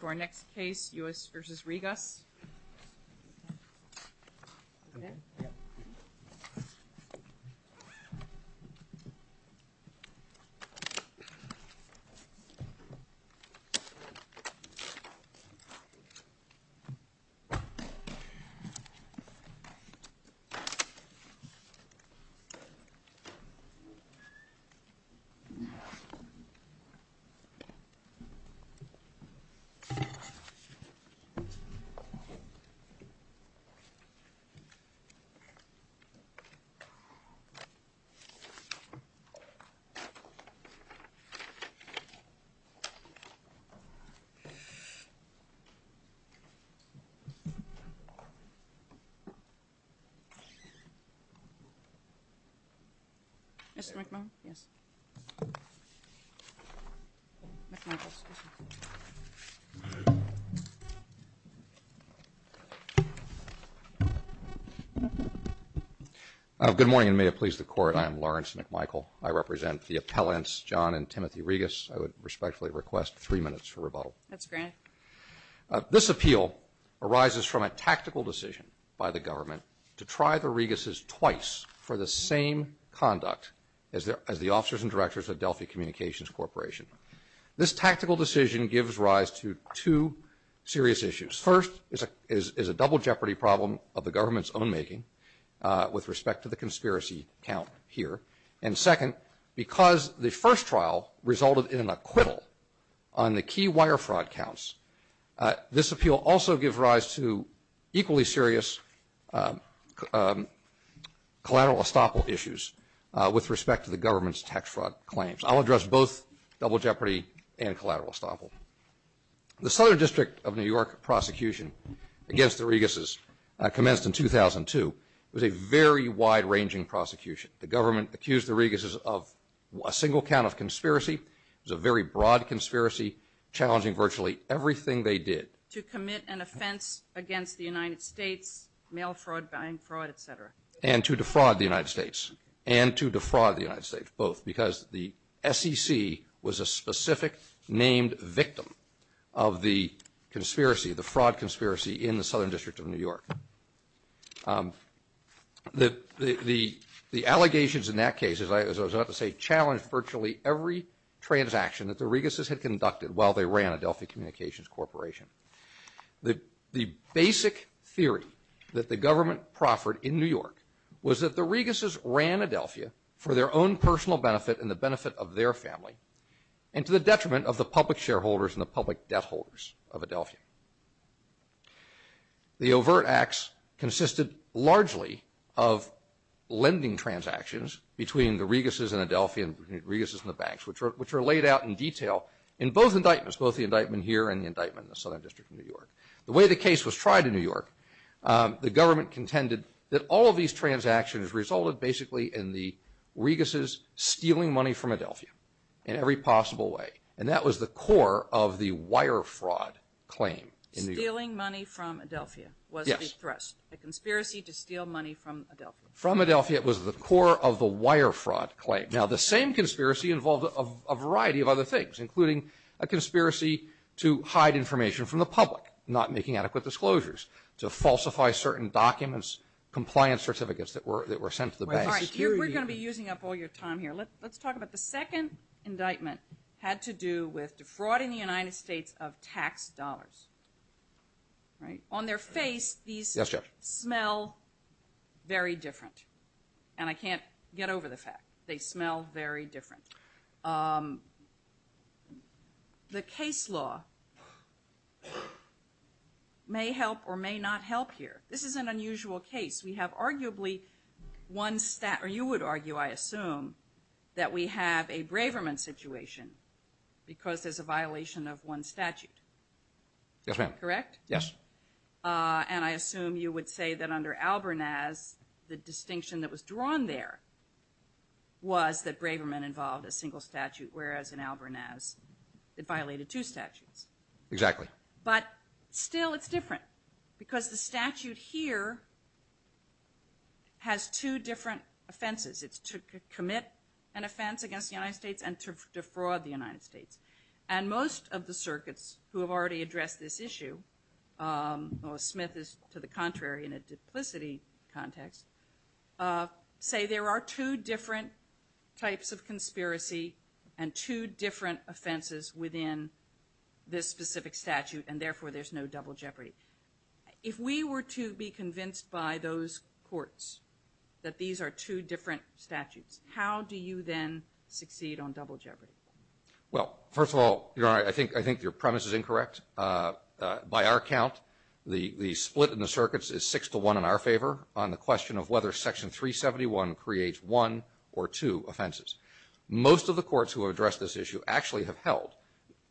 To our next case, U.S. v. Rigas. Mr. McMahon? Yes. Good morning, and may it please the Court, I am Lawrence McMichael. I represent the appellants John and Timothy Rigas. I would respectfully request three minutes for rebuttal. That's granted. This appeal arises from a tactical decision by the government to try the Rigas' twice for the same conduct as the officers and directors of Delphi Communications Corporation. This tactical decision gives rise to two serious issues. First is a double jeopardy problem of the government's own making with respect to the conspiracy count here. And second, because the first trial resulted in an acquittal on the key wire fraud counts, This appeal also gives rise to equally serious collateral estoppel issues with respect to the government's tax fraud claims. I'll address both double jeopardy and collateral estoppel. The Southern District of New York prosecution against the Rigas' commenced in 2002. It was a very wide-ranging prosecution. The government accused the Rigas' of a single count of conspiracy. It was a very broad conspiracy, challenging virtually everything they did. To commit an offense against the United States, mail fraud, buying fraud, etc. And to defraud the United States. And to defraud the United States, both. Because the SEC was a specific named victim of the conspiracy, the fraud conspiracy in the Southern District of New York. The allegations in that case, as I was about to say, challenged virtually every transaction that the Rigas' had conducted while they ran Adelphia Communications Corporation. The basic theory that the government proffered in New York was that the Rigas' ran Adelphia for their own personal benefit and the benefit of their family. And to the detriment of the public shareholders and the public debt holders of Adelphia. The overt acts consisted largely of lending transactions between the Rigas' and Adelphia, and the Rigas' and the banks, which are laid out in detail in both indictments. Both the indictment here and the indictment in the Southern District of New York. The way the case was tried in New York, the government contended that all of these transactions resulted basically in the Rigas' stealing money from Adelphia in every possible way. And that was the core of the wire fraud claim in New York. Stealing money from Adelphia was the thrust. A conspiracy to steal money from Adelphia. From Adelphia was the core of the wire fraud claim. Now, the same conspiracy involved a variety of other things, including a conspiracy to hide information from the public, not making adequate disclosures, to falsify certain documents, compliance certificates that were sent to the bank. We're going to be using up all your time here. Let's talk about the second indictment had to do with defrauding the United States of tax dollars, right? On their face, these smell very different. And I can't get over the fact. They smell very different. The case law may help or may not help here. This is an unusual case. We have arguably one stat, or you would argue, I assume, that we have a Braverman situation because there's a violation of one statute. Yes, ma'am. Correct? Yes. And I assume you would say that under Albernaz, the distinction that was drawn there was that Braverman involved a single statute, whereas in Albernaz, it violated two statutes. Exactly. But still, it's different because the statute here has two different offenses. It's to commit an offense against the United States and to defraud the United States. And most of the circuits who have already addressed this issue, or Smith is to the contrary in a duplicity context, say there are two different types of conspiracy and two different offenses within this specific statute, and therefore, there's no double jeopardy. If we were to be convinced by those courts that these are two different statutes, how do you then succeed on double jeopardy? Well, first of all, Your Honor, I think your premise is incorrect. By our count, the split in the circuits is six to one in our favor on the question of whether Section 371 creates one or two offenses. Most of the courts who have addressed this issue actually have held,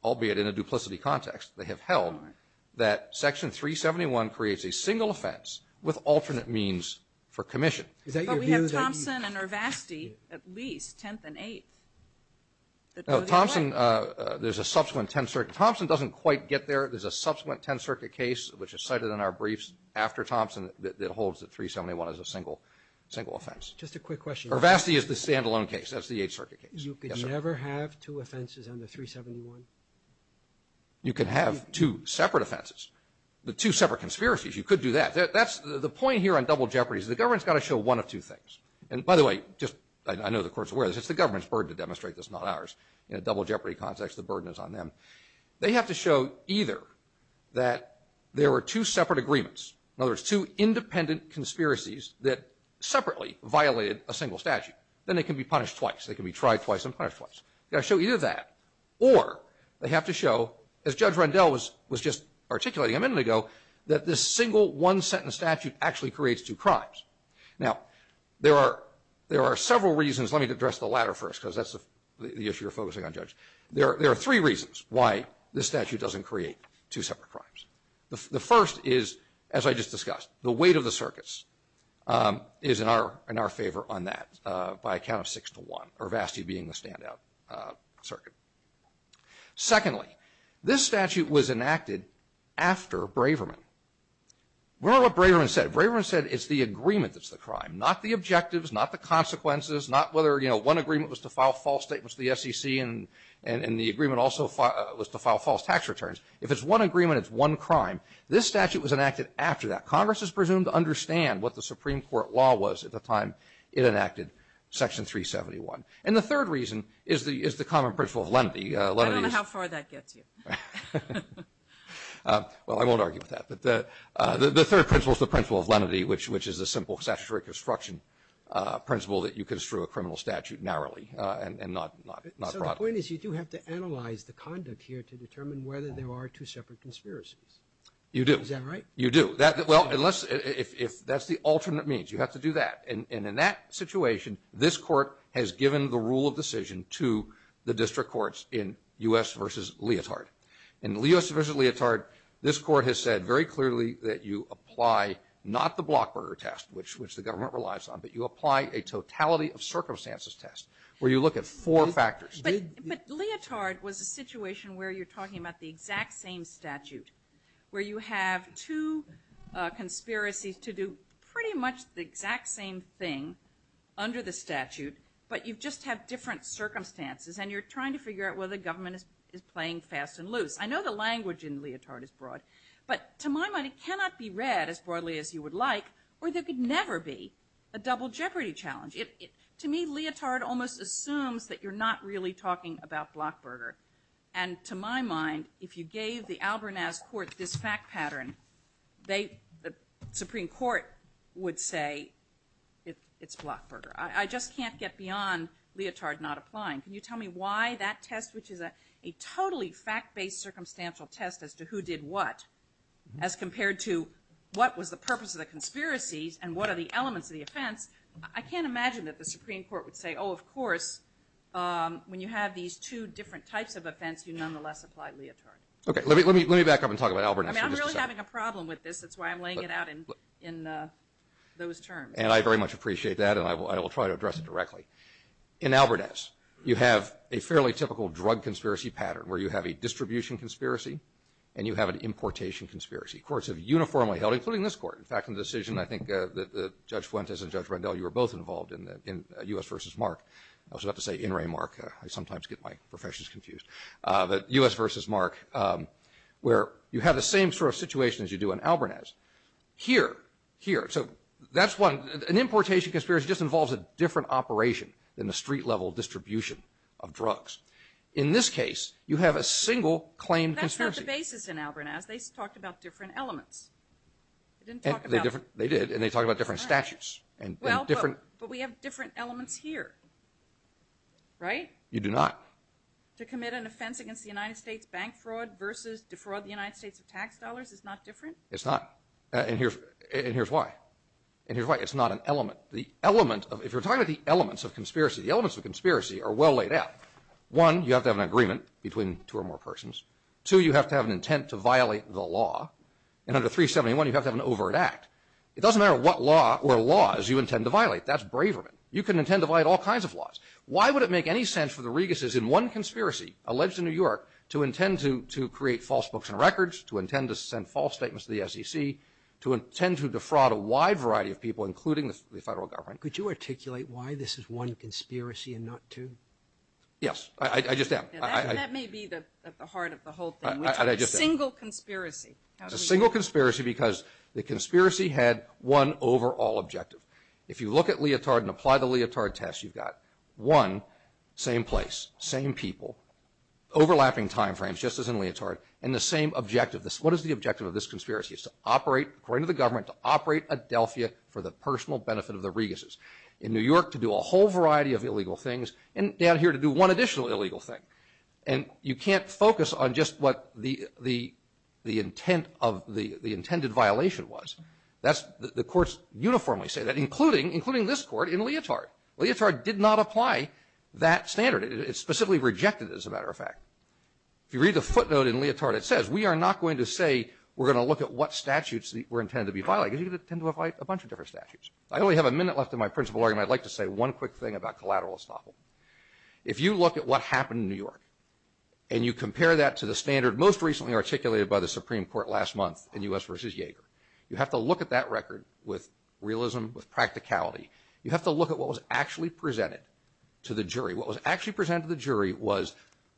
albeit in a duplicity context, they have held that Section 371 creates a single offense with alternate means for commission. But we have Thompson and Ervasti at least, 10th and 8th. No, Thompson, there's a subsequent 10th Circuit. Thompson doesn't quite get there. There's a subsequent 10th Circuit case which is cited in our briefs after Thompson that holds that 371 is a single offense. Just a quick question. Ervasti is the standalone case. That's the 8th Circuit case. You could never have two offenses under 371? You could have two separate offenses. The two separate conspiracies, you could do that. That's the point here on double jeopardy is the government's got to show one of two things. And by the way, just I know the court's aware of this. It's the government's burden to demonstrate this, not ours. In a double jeopardy context, the burden is on them. They have to show either that there were two separate agreements. In other words, two independent conspiracies that separately violated a single statute. Then they can be punished twice. They can be tried twice and punished twice. They've got to show either that or they have to show, as Judge Rendell was just articulating a minute ago, that this single one-sentence statute actually creates two crimes. Now, there are several reasons. Let me address the latter first because that's the issue you're focusing on, Judge. There are three reasons why this statute doesn't create two separate crimes. The first is, as I just discussed, the weight of the circuits is in our favor on that by a count of six to one, or Vasty being the standout circuit. Secondly, this statute was enacted after Braverman. Remember what Braverman said. Braverman said it's the agreement that's the crime, not the objectives, not the consequences, not whether, you know, one agreement was to file false statements to the SEC and the agreement also was to file false tax returns. If it's one agreement, it's one crime. This statute was enacted after that. Congress is presumed to understand what the Supreme Court law was at the time it enacted Section 371. And the third reason is the common principle of lenity. I don't know how far that gets you. Well, I won't argue with that. But the third principle is the principle of lenity, which is a simple statutory construction principle that you construe a criminal statute narrowly and not broadly. So the point is you do have to analyze the conduct here to determine whether there are two separate conspiracies. You do. Is that right? You do. Well, unless, if that's the alternate means, you have to do that. And in that situation, this court has given the rule of decision to the district courts in U.S. v. Leotard. In U.S. v. Leotard, this court has said very clearly that you apply not the Blockburger test, which the government relies on, but you apply a totality of circumstances test, where you look at four factors. But Leotard was a situation where you're talking about the exact same statute, where you have two conspiracies to do pretty much the exact same thing under the statute, but you just have different circumstances. And you're trying to figure out whether the government is playing fast and loose. I know the language in Leotard is broad. But to my mind, it cannot be read as broadly as you would like, or there could never be a double jeopardy challenge. To me, Leotard almost assumes that you're not really talking about Blockburger. And to my mind, if you gave the Albernaz court this fact pattern, the Supreme Court would say, it's Blockburger. I just can't get beyond Leotard not applying. Can you tell me why that test, which is a totally fact-based circumstantial test as to who did what, as compared to what was the purpose of the conspiracies and what are the elements of the offense? I can't imagine that the Supreme Court would say, oh, of course, when you have these two different types of offense, you nonetheless apply Leotard. Okay, let me back up and talk about Albernaz for just a second. I mean, I'm really having a problem with this. That's why I'm laying it out in those terms. And I very much appreciate that, and I will try to address it directly. In Albernaz, you have a fairly typical drug conspiracy pattern, where you have a distribution conspiracy and you have an importation conspiracy. Courts have uniformly held, including this court. In fact, in the decision, I think that Judge Fuentes and Judge Rendell, you were both involved in U.S. versus Mark. I was about to say In re Mark. I sometimes get my professions confused. But U.S. versus Mark, where you have the same sort of situation as you do in Albernaz. Here, here, so that's one. An importation conspiracy just involves a different operation than the street-level distribution of drugs. In this case, you have a single claimed conspiracy. That's not the basis in Albernaz. They talked about different elements. They didn't talk about... They did, and they talked about different statutes and different... Well, but we have different elements here, right? You do not. To commit an offense against the United States bank fraud versus defraud the United States of tax dollars is not different? It's not, and here's why. And here's why. It's not an element. The element of... If you're talking about the elements of conspiracy, the elements of conspiracy are well laid out. One, you have to have an agreement between two or more persons. Two, you have to have an intent to violate the law. And under 371, you have to have an overt act. It doesn't matter what law or laws you intend to violate. That's Braverman. You can intend to violate all kinds of laws. Why would it make any sense for the Reguses in one conspiracy, alleged in New York, to intend to create false books and records, to intend to send false statements to the SEC, to intend to defraud a wide variety of people, including the federal government? Could you articulate why this is one conspiracy and not two? Yes, I just am. That may be the heart of the whole thing. It's a single conspiracy. It's a single conspiracy because the conspiracy had one overall objective. If you look at leotard and apply the leotard test, you've got one, same place, same people, overlapping time frames, just as in leotard, and the same objective. What is the objective of this conspiracy? It's to operate, according to the government, to operate Adelphia for the personal benefit of the Reguses. In New York, to do a whole variety of illegal things. And down here, to do one additional illegal thing. And you can't focus on just what the intent of the intended violation was. The courts uniformly say that, including this Court in leotard. Leotard did not apply that standard. It specifically rejected it, as a matter of fact. If you read the footnote in leotard, it says, we are not going to say we're going to look at what statutes were intended to be violated. You're going to tend to apply a bunch of different statutes. I only have a minute left in my principal argument. I'd like to say one quick thing about collateral estoppel. If you look at what happened in New York, and you compare that to the standard most recently articulated by the Supreme Court last month, in U.S. v. Yeager, you have to look at that record with realism, with practicality. You have to look at what was actually presented to the jury. What was actually presented to the jury was,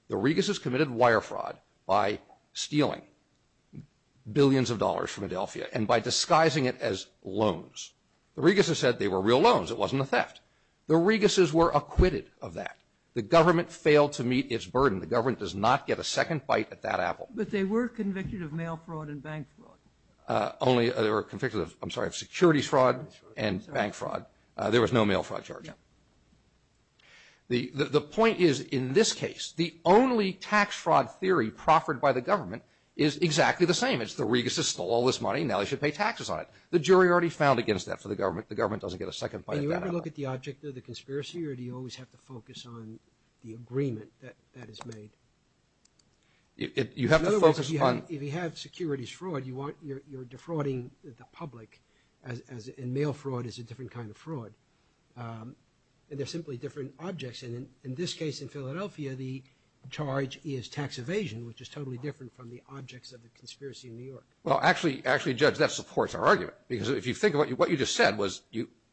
the Reguses committed wire fraud by stealing billions of dollars from Adelphia, and by disguising it as loans. The Reguses said they were real loans. It wasn't a theft. The Reguses were acquitted of that. The government failed to meet its burden. The government does not get a second bite at that apple. But they were convicted of mail fraud and bank fraud. Only they were convicted of, I'm sorry, of securities fraud and bank fraud. There was no mail fraud charge. Yeah. The point is, in this case, the only tax fraud theory proffered by the government is exactly the same. It's the Reguses stole all this money. Now they should pay taxes on it. The government doesn't get a second bite at that apple. Do you ever look at the object of the conspiracy, or do you always have to focus on the agreement that is made? In other words, if you have securities fraud, you're defrauding the public, and mail fraud is a different kind of fraud. They're simply different objects. In this case, in Philadelphia, the charge is tax evasion, which is totally different from the objects of the conspiracy in New York. Well, actually, Judge, that supports our argument. Because if you think about it, what you just said was,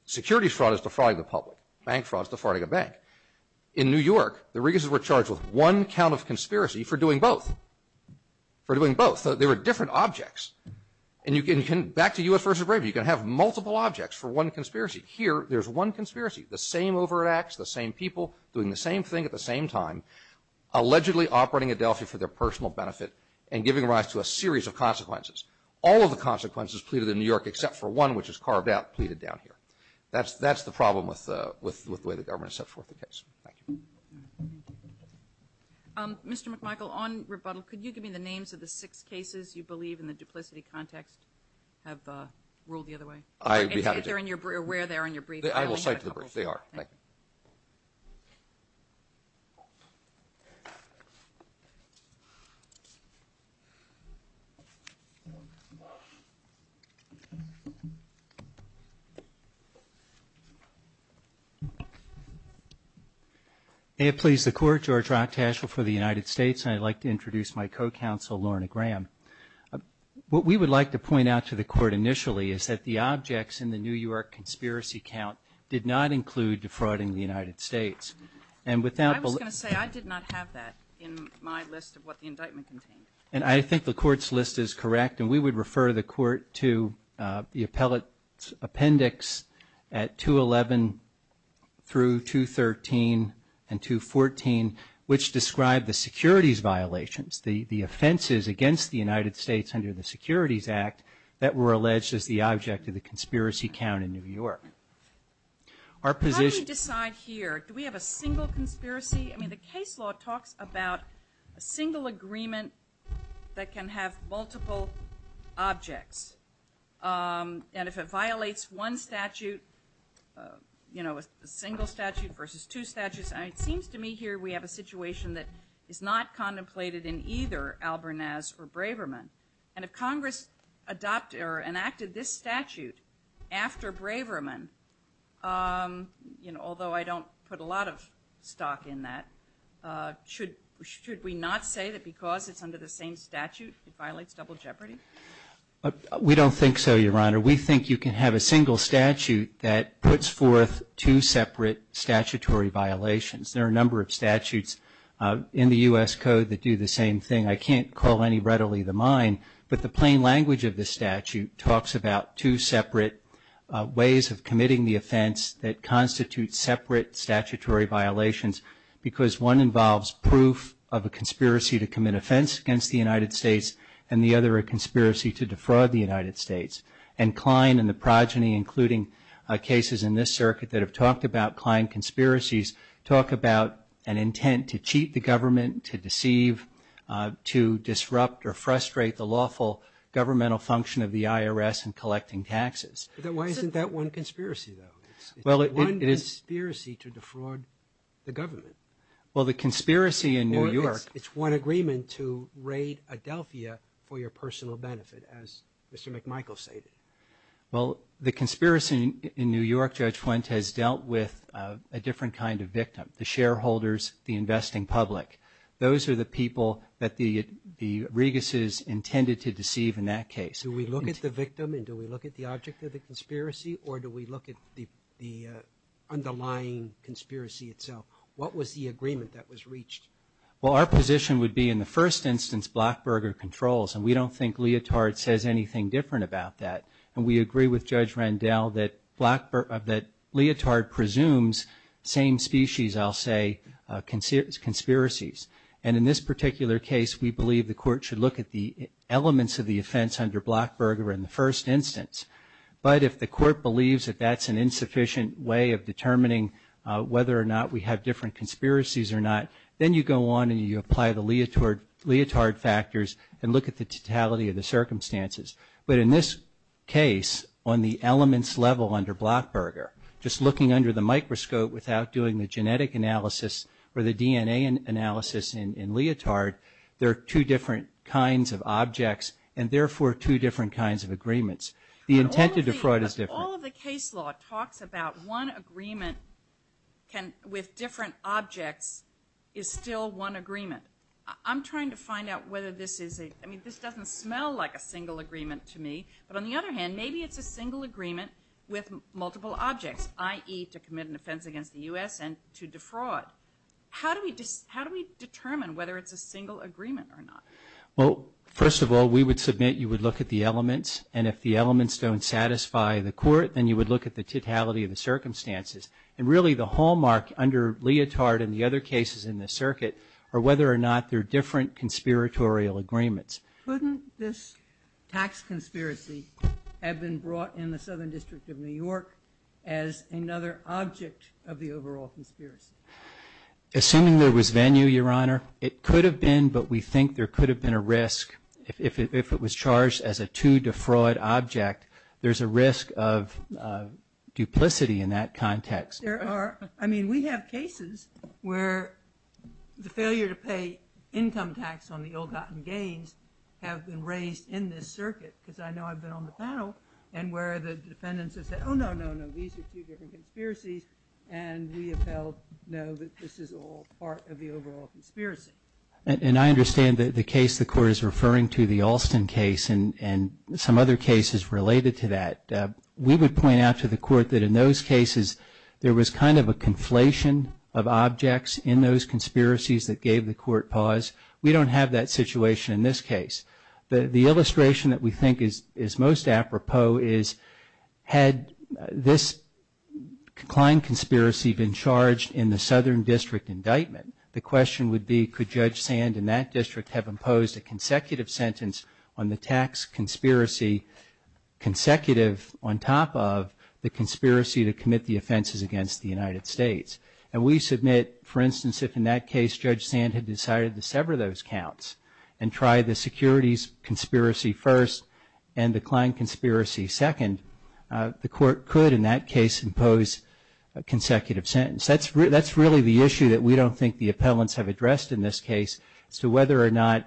securities fraud is defrauding the public. Bank fraud is defrauding a bank. In New York, the Reguses were charged with one count of conspiracy for doing both. For doing both. So they were different objects. And you can, back to U.S. vs. Braves, you can have multiple objects for one conspiracy. Here, there's one conspiracy. The same overreacts, the same people doing the same thing at the same time, and giving rise to a series of consequences. All of the consequences pleaded in New York, except for one, which is carved out, pleaded down here. That's the problem with the way the government has set forth the case. Mr. McMichael, on rebuttal, could you give me the names of the six cases you believe, in the duplicity context, have ruled the other way? If they're in your brief, or where they are in your brief. I will cite the brief. They are. Thank you. May it please the Court, George Rocktashel for the United States, and I'd like to introduce my co-counsel, Lorna Graham. What we would like to point out to the Court initially, is that the objects in the New York conspiracy count did not include defrauding the United States. I was going to say, I did not have that in my list of what the indictment contained. And I think the Court's list is correct, and we would refer the Court to the appellate appendix at 211 through 213 and 214, which describe the securities violations, the offenses against the United States under the Securities Act, that were alleged as the object of the conspiracy count in New York. How do we decide here? Do we have a single conspiracy? I mean, the case law talks about a single agreement that can have multiple objects. And if it violates one statute, you know, a single statute versus two statutes, it seems to me here we have a situation that is not contemplated in either Albernaz or Braverman. And if Congress adopted or enacted this statute after Braverman, you know, although I don't put a lot of stock in that, should we not say that because it's under the same statute it violates double jeopardy? We don't think so, Your Honor. We think you can have a single statute that puts forth two separate statutory violations. There are a number of statutes in the U.S. Code that do the same thing. I can't call any readily the mine, but the plain language of the statute talks about two separate ways of committing the offense that constitute separate statutory violations because one involves proof of a conspiracy to commit offense against the United States and the other a conspiracy to defraud the United States. And Klein and the progeny, including cases in this circuit that have talked about Klein conspiracies, talk about an intent to cheat the government, to deceive, to disrupt or frustrate the lawful governmental function of the IRS in collecting taxes. Then why isn't that one conspiracy, though? It's one conspiracy to defraud the government. Well, the conspiracy in New York... It's one agreement to raid Adelphia for your personal benefit, as Mr. McMichael stated. Well, the conspiracy in New York, Judge Fuentes, dealt with a different kind of victim, the shareholders, the investing public. Those are the people that the Reguses intended to deceive in that case. Do we look at the victim and do we look at the object of the conspiracy or do we look at the underlying conspiracy itself? What was the agreement that was reached? Well, our position would be, in the first instance, Blackberger controls. And we don't think Leotard says anything different about that. And we agree with Judge Randell that Leotard presumes same species, I'll say, conspiracies. And in this particular case, we believe the Court should look at the elements of the offense under Blackberger in the first instance. But if the Court believes that that's an insufficient way of determining whether or not we have different conspiracies or not, then you go on and you apply the Leotard factors and look at the totality of the circumstances. But in this case, on the elements level under Blackberger, just looking under the microscope without doing the genetic analysis or the DNA analysis in Leotard, there are two different kinds of objects and therefore two different kinds of agreements. The intent to defraud is different. All of the case law talks about one agreement with different objects is still one agreement. I'm trying to find out whether this is a... I mean, this doesn't smell like a single agreement to me. But on the other hand, maybe it's a single agreement with multiple objects, i.e. to commit an offense against the U.S. and to defraud. How do we determine whether it's a single agreement or not? Well, first of all, we would submit you would look at the elements and if the elements don't satisfy the court, then you would look at the totality of the circumstances. And really the hallmark under Leotard and the other cases in the circuit are whether or not they're different conspiratorial agreements. Couldn't this tax conspiracy have been brought in the Southern District of New York as another object of the overall conspiracy? Assuming there was venue, Your Honor, it could have been, but we think there could have been a risk if it was charged as a to defraud object, there's a risk of duplicity in that context. There are... I mean, we have cases where the failure to pay income tax on the ill-gotten gains have been raised in this circuit because I know I've been on the panel and where the defendants have said, oh, no, no, no, these are two different conspiracies and we have held, no, this is all part of the overall conspiracy. And I understand the case the Court is referring to, the Alston case and some other cases related to that. We would point out to the Court that in those cases there was kind of a conflation of objects in those conspiracies that gave the Court pause. We don't have that situation in this case. The illustration that we think is most apropos is had this Klein conspiracy been charged in the Southern District indictment, the question would be could Judge Sand in that district have imposed a consecutive sentence on the tax conspiracy consecutive on top of the conspiracy to commit the offenses against the United States. And we submit, for instance, if in that case Judge Sand had decided to sever those counts and try the securities conspiracy first and the Klein conspiracy second, the Court could in that case impose a consecutive sentence. That's really the issue that we don't think the appellants have addressed in this case as to whether or not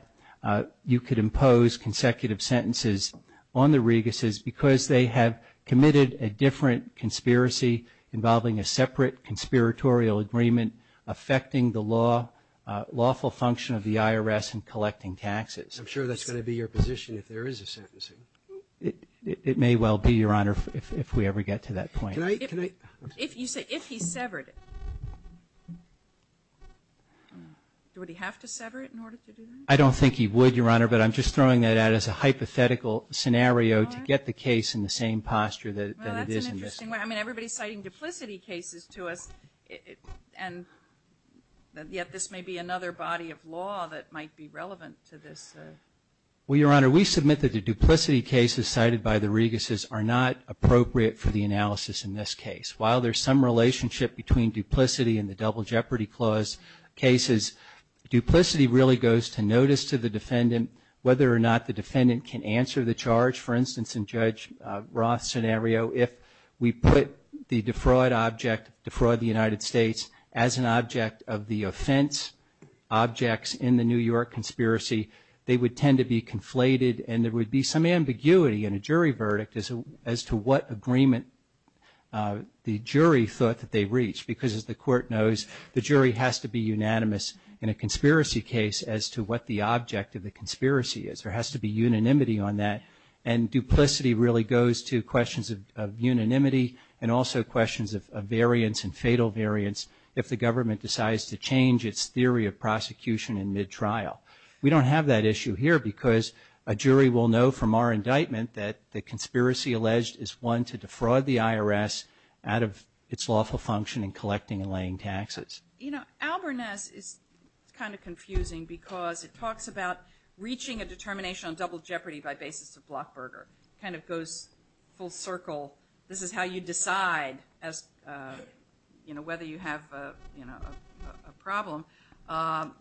you could impose consecutive sentences on the Reguses because they have committed a different conspiracy involving a separate conspiratorial agreement affecting the law, lawful function of the IRS in collecting taxes. I'm sure that's going to be your position if there is a sentencing. It may well be, Your Honor, if we ever get to that point. If you say, if he severed it, would he have to sever it in order to do that? I don't think he would, Your Honor, but I'm just throwing that out as a hypothetical scenario to get the case in the same posture that it is in this case. Well, that's an interesting way. I mean, everybody's citing duplicity cases to us and yet this may be another body of law that might be relevant to this. Well, Your Honor, we submit that the duplicity cases cited by the Reguses are not appropriate for the analysis in this case. While there's some relationship between duplicity and the Double Jeopardy Clause cases, duplicity really goes to notice to the defendant whether or not the defendant can answer the charge. For instance, in Judge Roth's scenario, if we put the defraud object, defraud of the United States, as an object of the offense, objects in the New York conspiracy, they would tend to be conflated and there would be some ambiguity in a jury verdict as to what agreement the jury thought that they reached because, as the Court knows, the jury has to be unanimous in a conspiracy case as to what the object of the conspiracy is. There has to be unanimity on that and duplicity really goes to questions of unanimity and also questions of variance and fatal variance if the government decides to change its theory of prosecution in mid-trial. We don't have that issue here because a jury will know from our indictment that the conspiracy alleged is one to defraud the IRS out of its lawful function in collecting and laying taxes. You know, Albernest is kind of confusing because it talks about reaching a determination on double jeopardy by basis of Blockburger. It kind of goes full circle. This is how you decide whether you have a problem.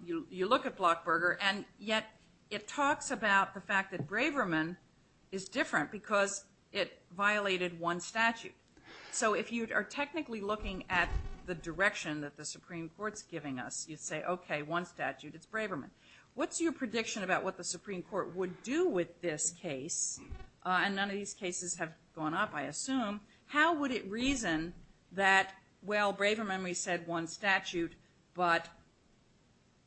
You look at Blockburger and yet it talks about the fact that Braverman is different because it violated one statute. So if you are technically looking at the direction that the Supreme Court is giving us, you say, okay, one statute, it's Braverman. What's your prediction about what the Supreme Court would do with this case and none of these cases have gone up, I assume. How would it reason that, well, Braverman, we said one statute but,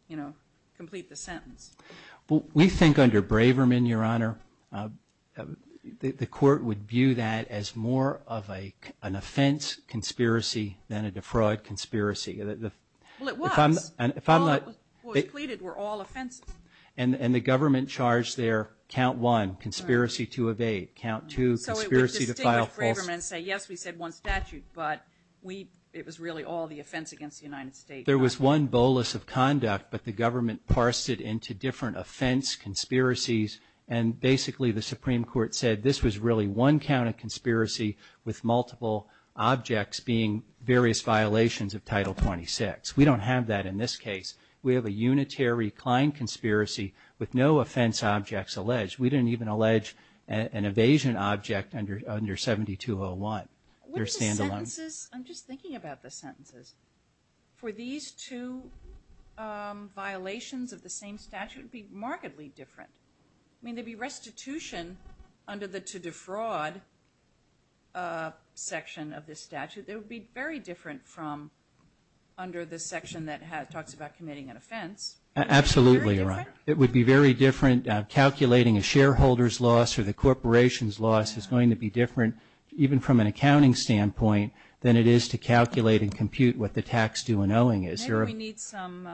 you know, complete the sentence? Well, we think under Braverman, Your Honor, the court would view that as more of an offense conspiracy than a defraud conspiracy. Well, it was. All that was pleaded were all offenses. And the government charged there count one, conspiracy to evade, count two, conspiracy to file false. So it would distinguish Braverman and say, yes, we said one statute but it was really all the offense against the United States. There was one bolus of conduct but the government parsed it into different offense conspiracies and basically the Supreme Court said this was really one count of conspiracy with multiple objects being various violations of Title 26. We don't have that in this case. We have a unitary client conspiracy with no offense objects alleged. We didn't even allege an evasion object under 7201. They're stand-alone. What are the sentences? I'm just thinking about the sentences. For these two violations of the same statute it would be remarkably different. I mean, there'd be restitution under the to defraud section of this statute that would be very different from under the section that talks about committing an offense. Absolutely, Your Honor. It would be very different calculating a shareholder's loss or the corporation's loss is going to be different even from an accounting standpoint than it is to calculate and compute what the tax due and owing is. Maybe we need some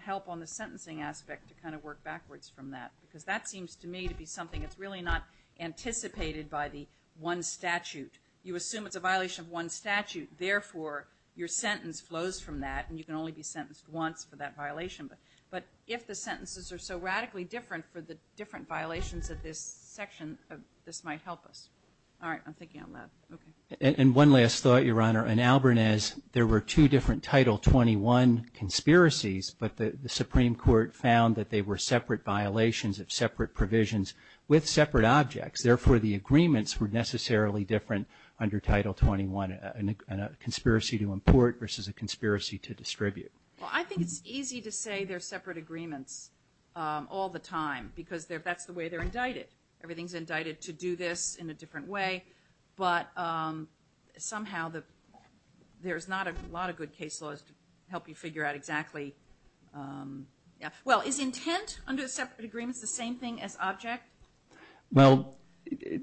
help on the sentencing aspect to kind of work backwards from that because that seems to me to be something that's really not anticipated by the one statute. You assume it's a violation of one statute therefore your sentence flows from that and you can only be sentenced once for that violation. But if the sentences are so radically different for the different violations of this section this might help us. All right. I'm thinking on that. Okay. And one last thought, Your Honor. In Albernez there were two different Title 21 conspiracies but the Supreme Court found that they were separate violations of separate provisions with separate objects. Therefore the agreements were necessarily different under Title 21 and a conspiracy versus a conspiracy to distribute. Well, I think it's easy to say they're separate agreements all the time because that's the way they're indicted. Everything's indicted to do this in a different way but somehow there's not a lot of good case laws to help you figure out exactly yeah. Well, is intent under separate agreements the same thing as object? Well,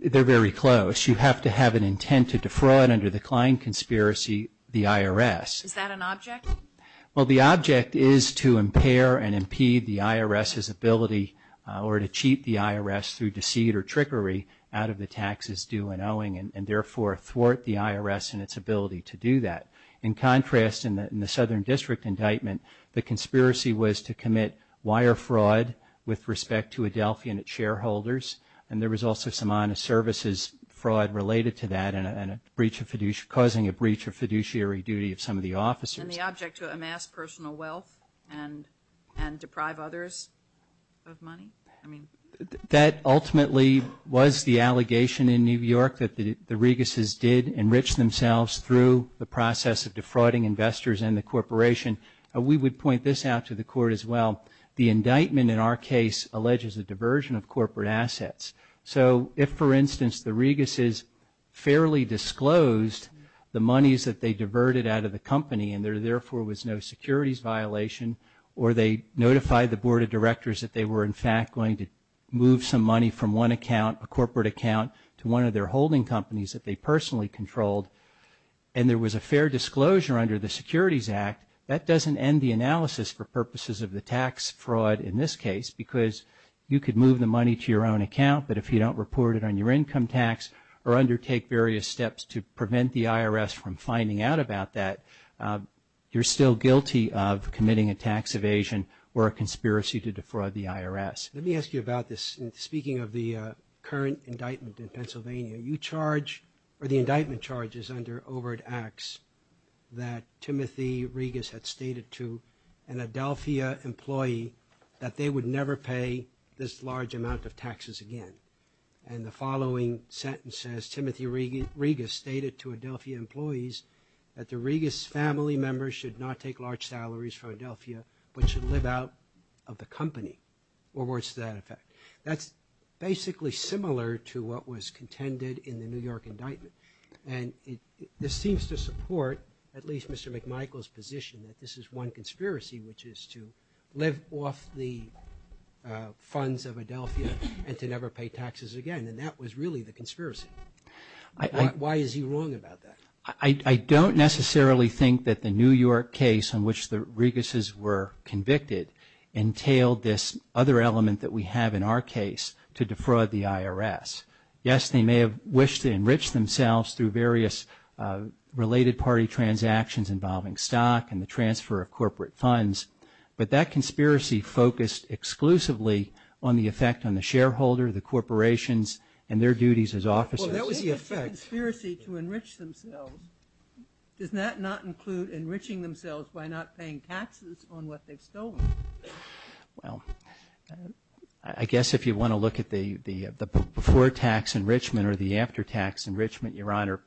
they're very close. You have to have an intent to defraud under the Klein conspiracy the IRS. Is that an object? Well, the object is to impair and impede the IRS's ability or to cheat the IRS through deceit or trickery out of the taxes due and owing and therefore thwart the IRS and its ability to do that. In contrast in the Southern District indictment the conspiracy was to commit wire fraud with respect to Adelphia and its shareholders and there was also some honest services fraud related to that and a breach of fiduciary causing a breach of some of the officers. And the object to amass personal wealth and deprive others of money? I mean that ultimately was the allegation in New York that the Reguses did enrich themselves the process of defrauding investors and the corporation and we would point this out to the court as well. The indictment in our case alleges a diversion of corporate assets. So if for instance the Reguses fairly disclosed the monies that they diverted out of the company and there therefore was no securities violation or they notified the board of directors that they were in fact going to move some money from one account a corporate account to one of their holding companies that they personally controlled and there was a fair disclosure under the Securities Act that doesn't end the analysis for purposes of the tax fraud in this case because you could move the money to your own account but if you don't report it on your income tax or undertake various steps to prevent the IRS from finding out about that you're still guilty of committing a tax evasion or a conspiracy to defraud the IRS. Let me ask you about this and speaking of the current indictment in Pennsylvania you charge or the indictment charges under overt acts that Timothy Regus had stated to an Adelphia employee that they would never pay this large amount of taxes again and the following sentence says Timothy Regus stated to Adelphia employees that the Regus family members should not take large salaries from Adelphia but should live out of the company or words to that effect. That's basically similar to what was contended in the New York indictment and this seems to support at least position that this is one conspiracy which is to live off the funds of Adelphia and to never pay taxes again and that was really the conspiracy. Why is he wrong about that? I don't necessarily think that the New York case in which the Reguses were convicted entailed this other element that we have in our case to defraud the IRS. Yes, they may have wished to enrich themselves through various related party transactions involving stock and the transfer of corporate funds but that conspiracy focused exclusively on the effect on the shareholder the corporations and their duties as officers. Well that was the effect. Conspiracy to enrich themselves does that not include enriching themselves by not paying taxes on what they've stolen? Well, I guess if you want to look at the before tax enrichment or the after tax enrichment, Your Honor,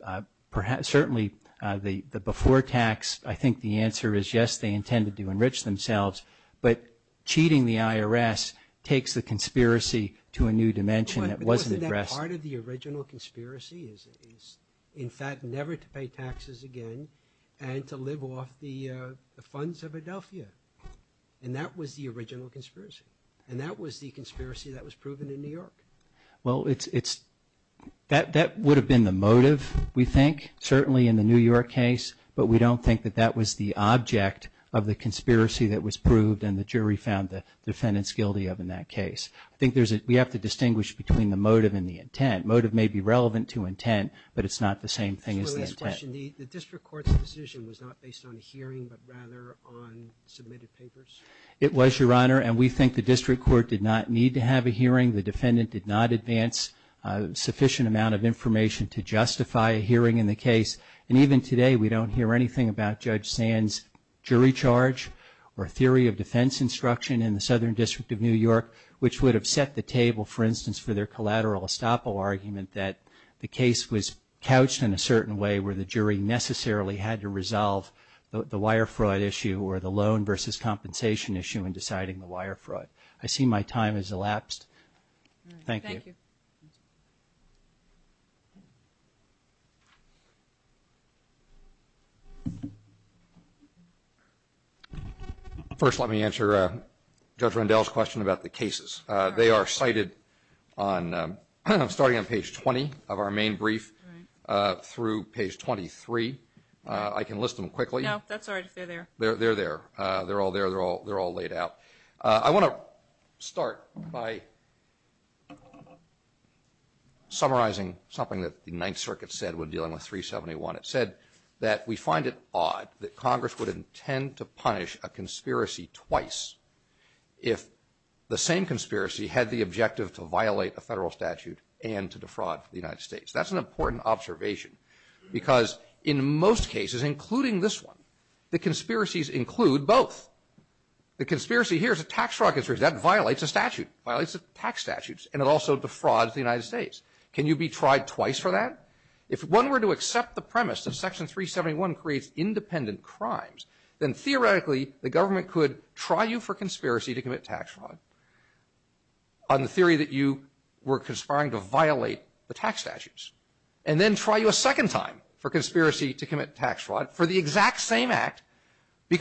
certainly the before tax I think the answer is yes, they intended to enrich themselves but cheating the IRS takes the conspiracy to a new dimension that wasn't addressed. But wasn't that part of the original conspiracy is in fact never to pay taxes again and to live off the funds of Adelphia and that was the original conspiracy and that was the conspiracy that was proven in New York. Well, that would have been the motive we think certainly in the New York case but we don't think that that was the object of the conspiracy that was proved and the jury found the defendants guilty of in that case. I think we have to distinguish between the motive and the intent. The motive may be relevant to intent but it's not the same thing as the intent. The District Court's decision was not based on a hearing but rather on submitted papers? It was, Your Honor, and we think the District Court did not need to have a hearing. The defendant did not advance a sufficient amount of information to justify a hearing in the case and even today we don't hear anything about Judge Sand's jury charge or theory of defense instruction in the Southern District of New York which would have set the table for instance for their collateral estoppel argument that the case was couched in a certain way where the jury necessarily had to resolve the wire fraud issue or the loan versus compensation issue in deciding the wire fraud. I see my time has elapsed. Thank you. Thank you. First let me answer Judge Rendell's question about the cases. They are cited on, I'm starting on page 20 of our main brief through page 23. I can list them quickly. No, that's all right. They're there. They're all there. They're all laid out. I want to start by summarizing something that the Ninth Circuit said when dealing with 371. It said that we find it odd that Congress would intend to punish a conspiracy twice if the same conspiracy had the objective to violate a federal statute and to defraud the United States. That's an important observation because in most cases including this one the conspiracies include both. The conspiracy here is a tax fraud conspiracy. That violates a statute. It violates tax statutes and it also defrauds the United States. Can you be tried twice for that? If one were to accept the premise that Section 371 creates independent crimes then theoretically the government could try you for conspiracy to commit tax fraud on the theory that you were conspiring to violate the tax statutes and then try you a second time for conspiracy to commit tax fraud for the exact same act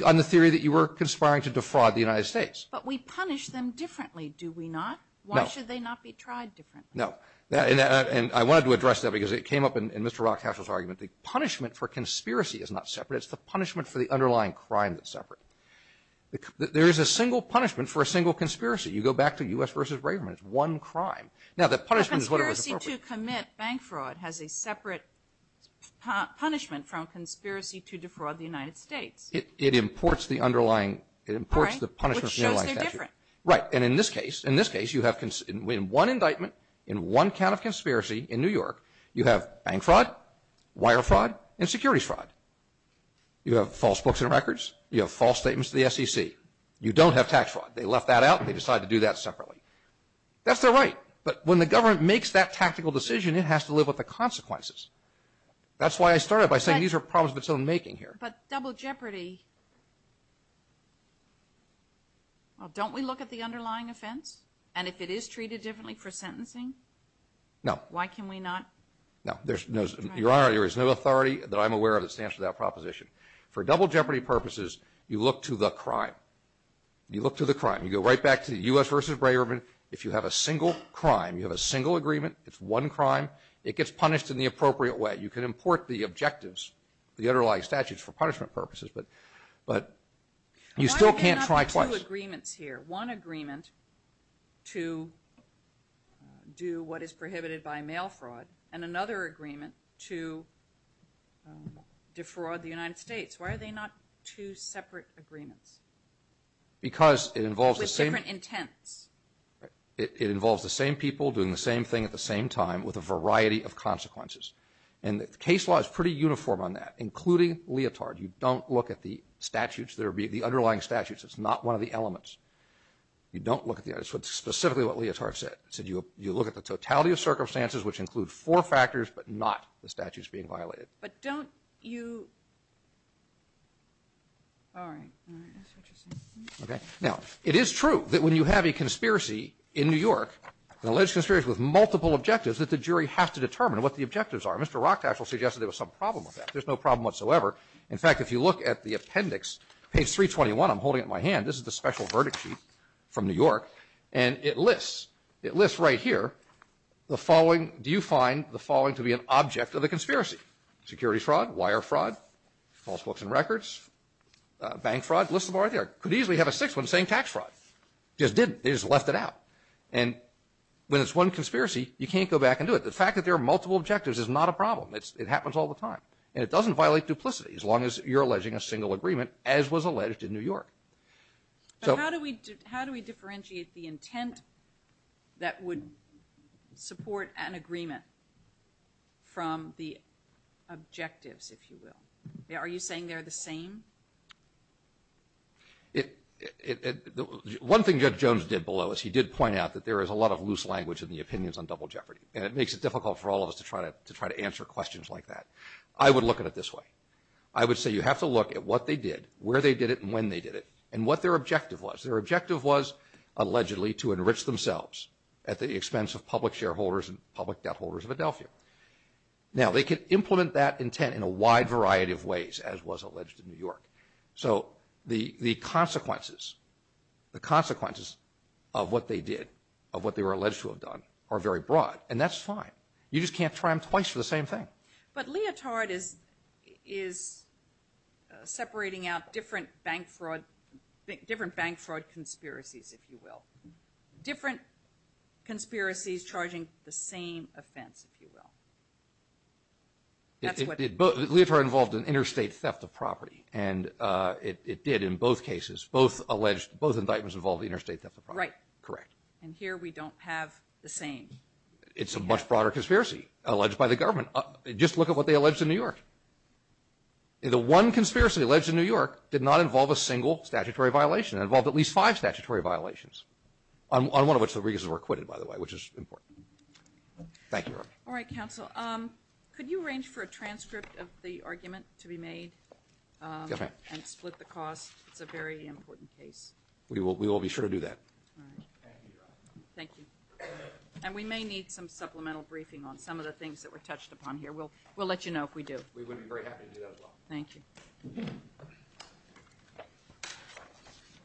on the theory that you were conspiring to defraud the United States. But we punish them differently do we not? No. Why should they not be tried differently? No. And I wanted to address that because it came up in Mr. Rothschild's argument. The punishment for conspiracy is not separate. It's the punishment for the underlying crime that's separate. There is a single punishment for a single conspiracy. You go back to U.S. v. Braverman. It's one crime. Now the punishment for conspiracy to commit bank fraud has a separate punishment from conspiracy to defraud the United States. It imports the underlying punishment from the underlying statute. Right. And in this case you have one indictment in one count of conspiracy in New York you have bank fraud wire fraud and securities fraud. You have false books and records. You have false statements to the SEC. You don't have tax fraud. They left that out and they decided to do that separately. That's their right. But when the government makes that tactical decision it has to live with the consequences. That's why I started by saying these are problems of its own making here. But double jeopardy don't we look at the underlying offense and if it is treated differently for sentencing? No. Why can we not? No. Your Honor, there is no authority that I'm aware of that stands for that proposition. For double jeopardy purposes you look to the crime. You look to the crime. You go right back to the U.S. vs. Breitbart if you have a single crime you have a single agreement it's one crime it gets punished in the appropriate way. You can import the objectives the underlying statutes for punishment purposes but you still can't try twice. Why are they not two agreements here? One agreement to do what is prohibited by mail fraud and another agreement to defraud the United States. Why are they not two separate agreements? Because it involves different intents. It involves the same people doing the same thing at the same time with a variety of consequences and the case law is pretty uniform on that including Leotard. You don't look at the statutes the underlying statutes it's not one of the elements. You don't look at the specifically what Leotard said. He said you look at the totality of circumstances which include four factors but not the statutes being violated. But don't you all right. All right. That's interesting. Okay. Now it is true that when you have a conspiracy in New York an alleged conspiracy with multiple objectives that the jury have to determine what the objectives are. Mr. Rochtash will suggest there was some problem with that. There's no problem whatsoever. In fact if you look at the appendix page 321 I'm holding it in my hand this is the conspiracy security fraud wire fraud false books and records bank fraud list them all right there could easily have a sixth one saying tax fraud just didn't they just left it out and when it's one conspiracy you can't go back and do it. The fact that there are multiple objectives is not a problem it happens all the time and it doesn't violate duplicity as long as you're alleging a single agreement as was alleged in New York. So how do we how do we differentiate the intent that would support an agreement from the objectives if you will. Are you saying they're the same? One thing Judge Jones did below us he did point out that there is a lot of loose language in the opinions on double jeopardy and it makes it difficult for all of us to try to answer questions like that. I would look at it this way. I would say you have to look at what they did where they did it and when they did it and what their objective was. Their objective was allegedly to enrich themselves at the expense of public shareholders and public debt holders of Adelphia. Now they could implement that intent in a wide variety of ways as was alleged in New York. So the consequences the consequences of what they did of what they were alleged to have done are very broad and that's fine. You just can't try them twice for the same thing. But leotard is separating out different bank fraud leotard conspiracies if you will. Different conspiracies charging the same offense if you will. That's what Leotard involved an interstate theft of property and it did in both cases both alleged both indictments involved interstate theft of property. Right. Correct. And here we don't have the same. It's a much broader conspiracy alleged by the government. Just look at what they did. Five statutory violations on one of which the reasons were acquitted by the way which is important. Thank you. All right counsel. Could you arrange for a transcript of the argument to be made and split the cost? It's a very important case. We will be sure to do that. Thank you. And we may need some supplemental briefing on some of the things that were touched upon here. We'll let you know if we do. We would be very happy to do that as well. Thank you.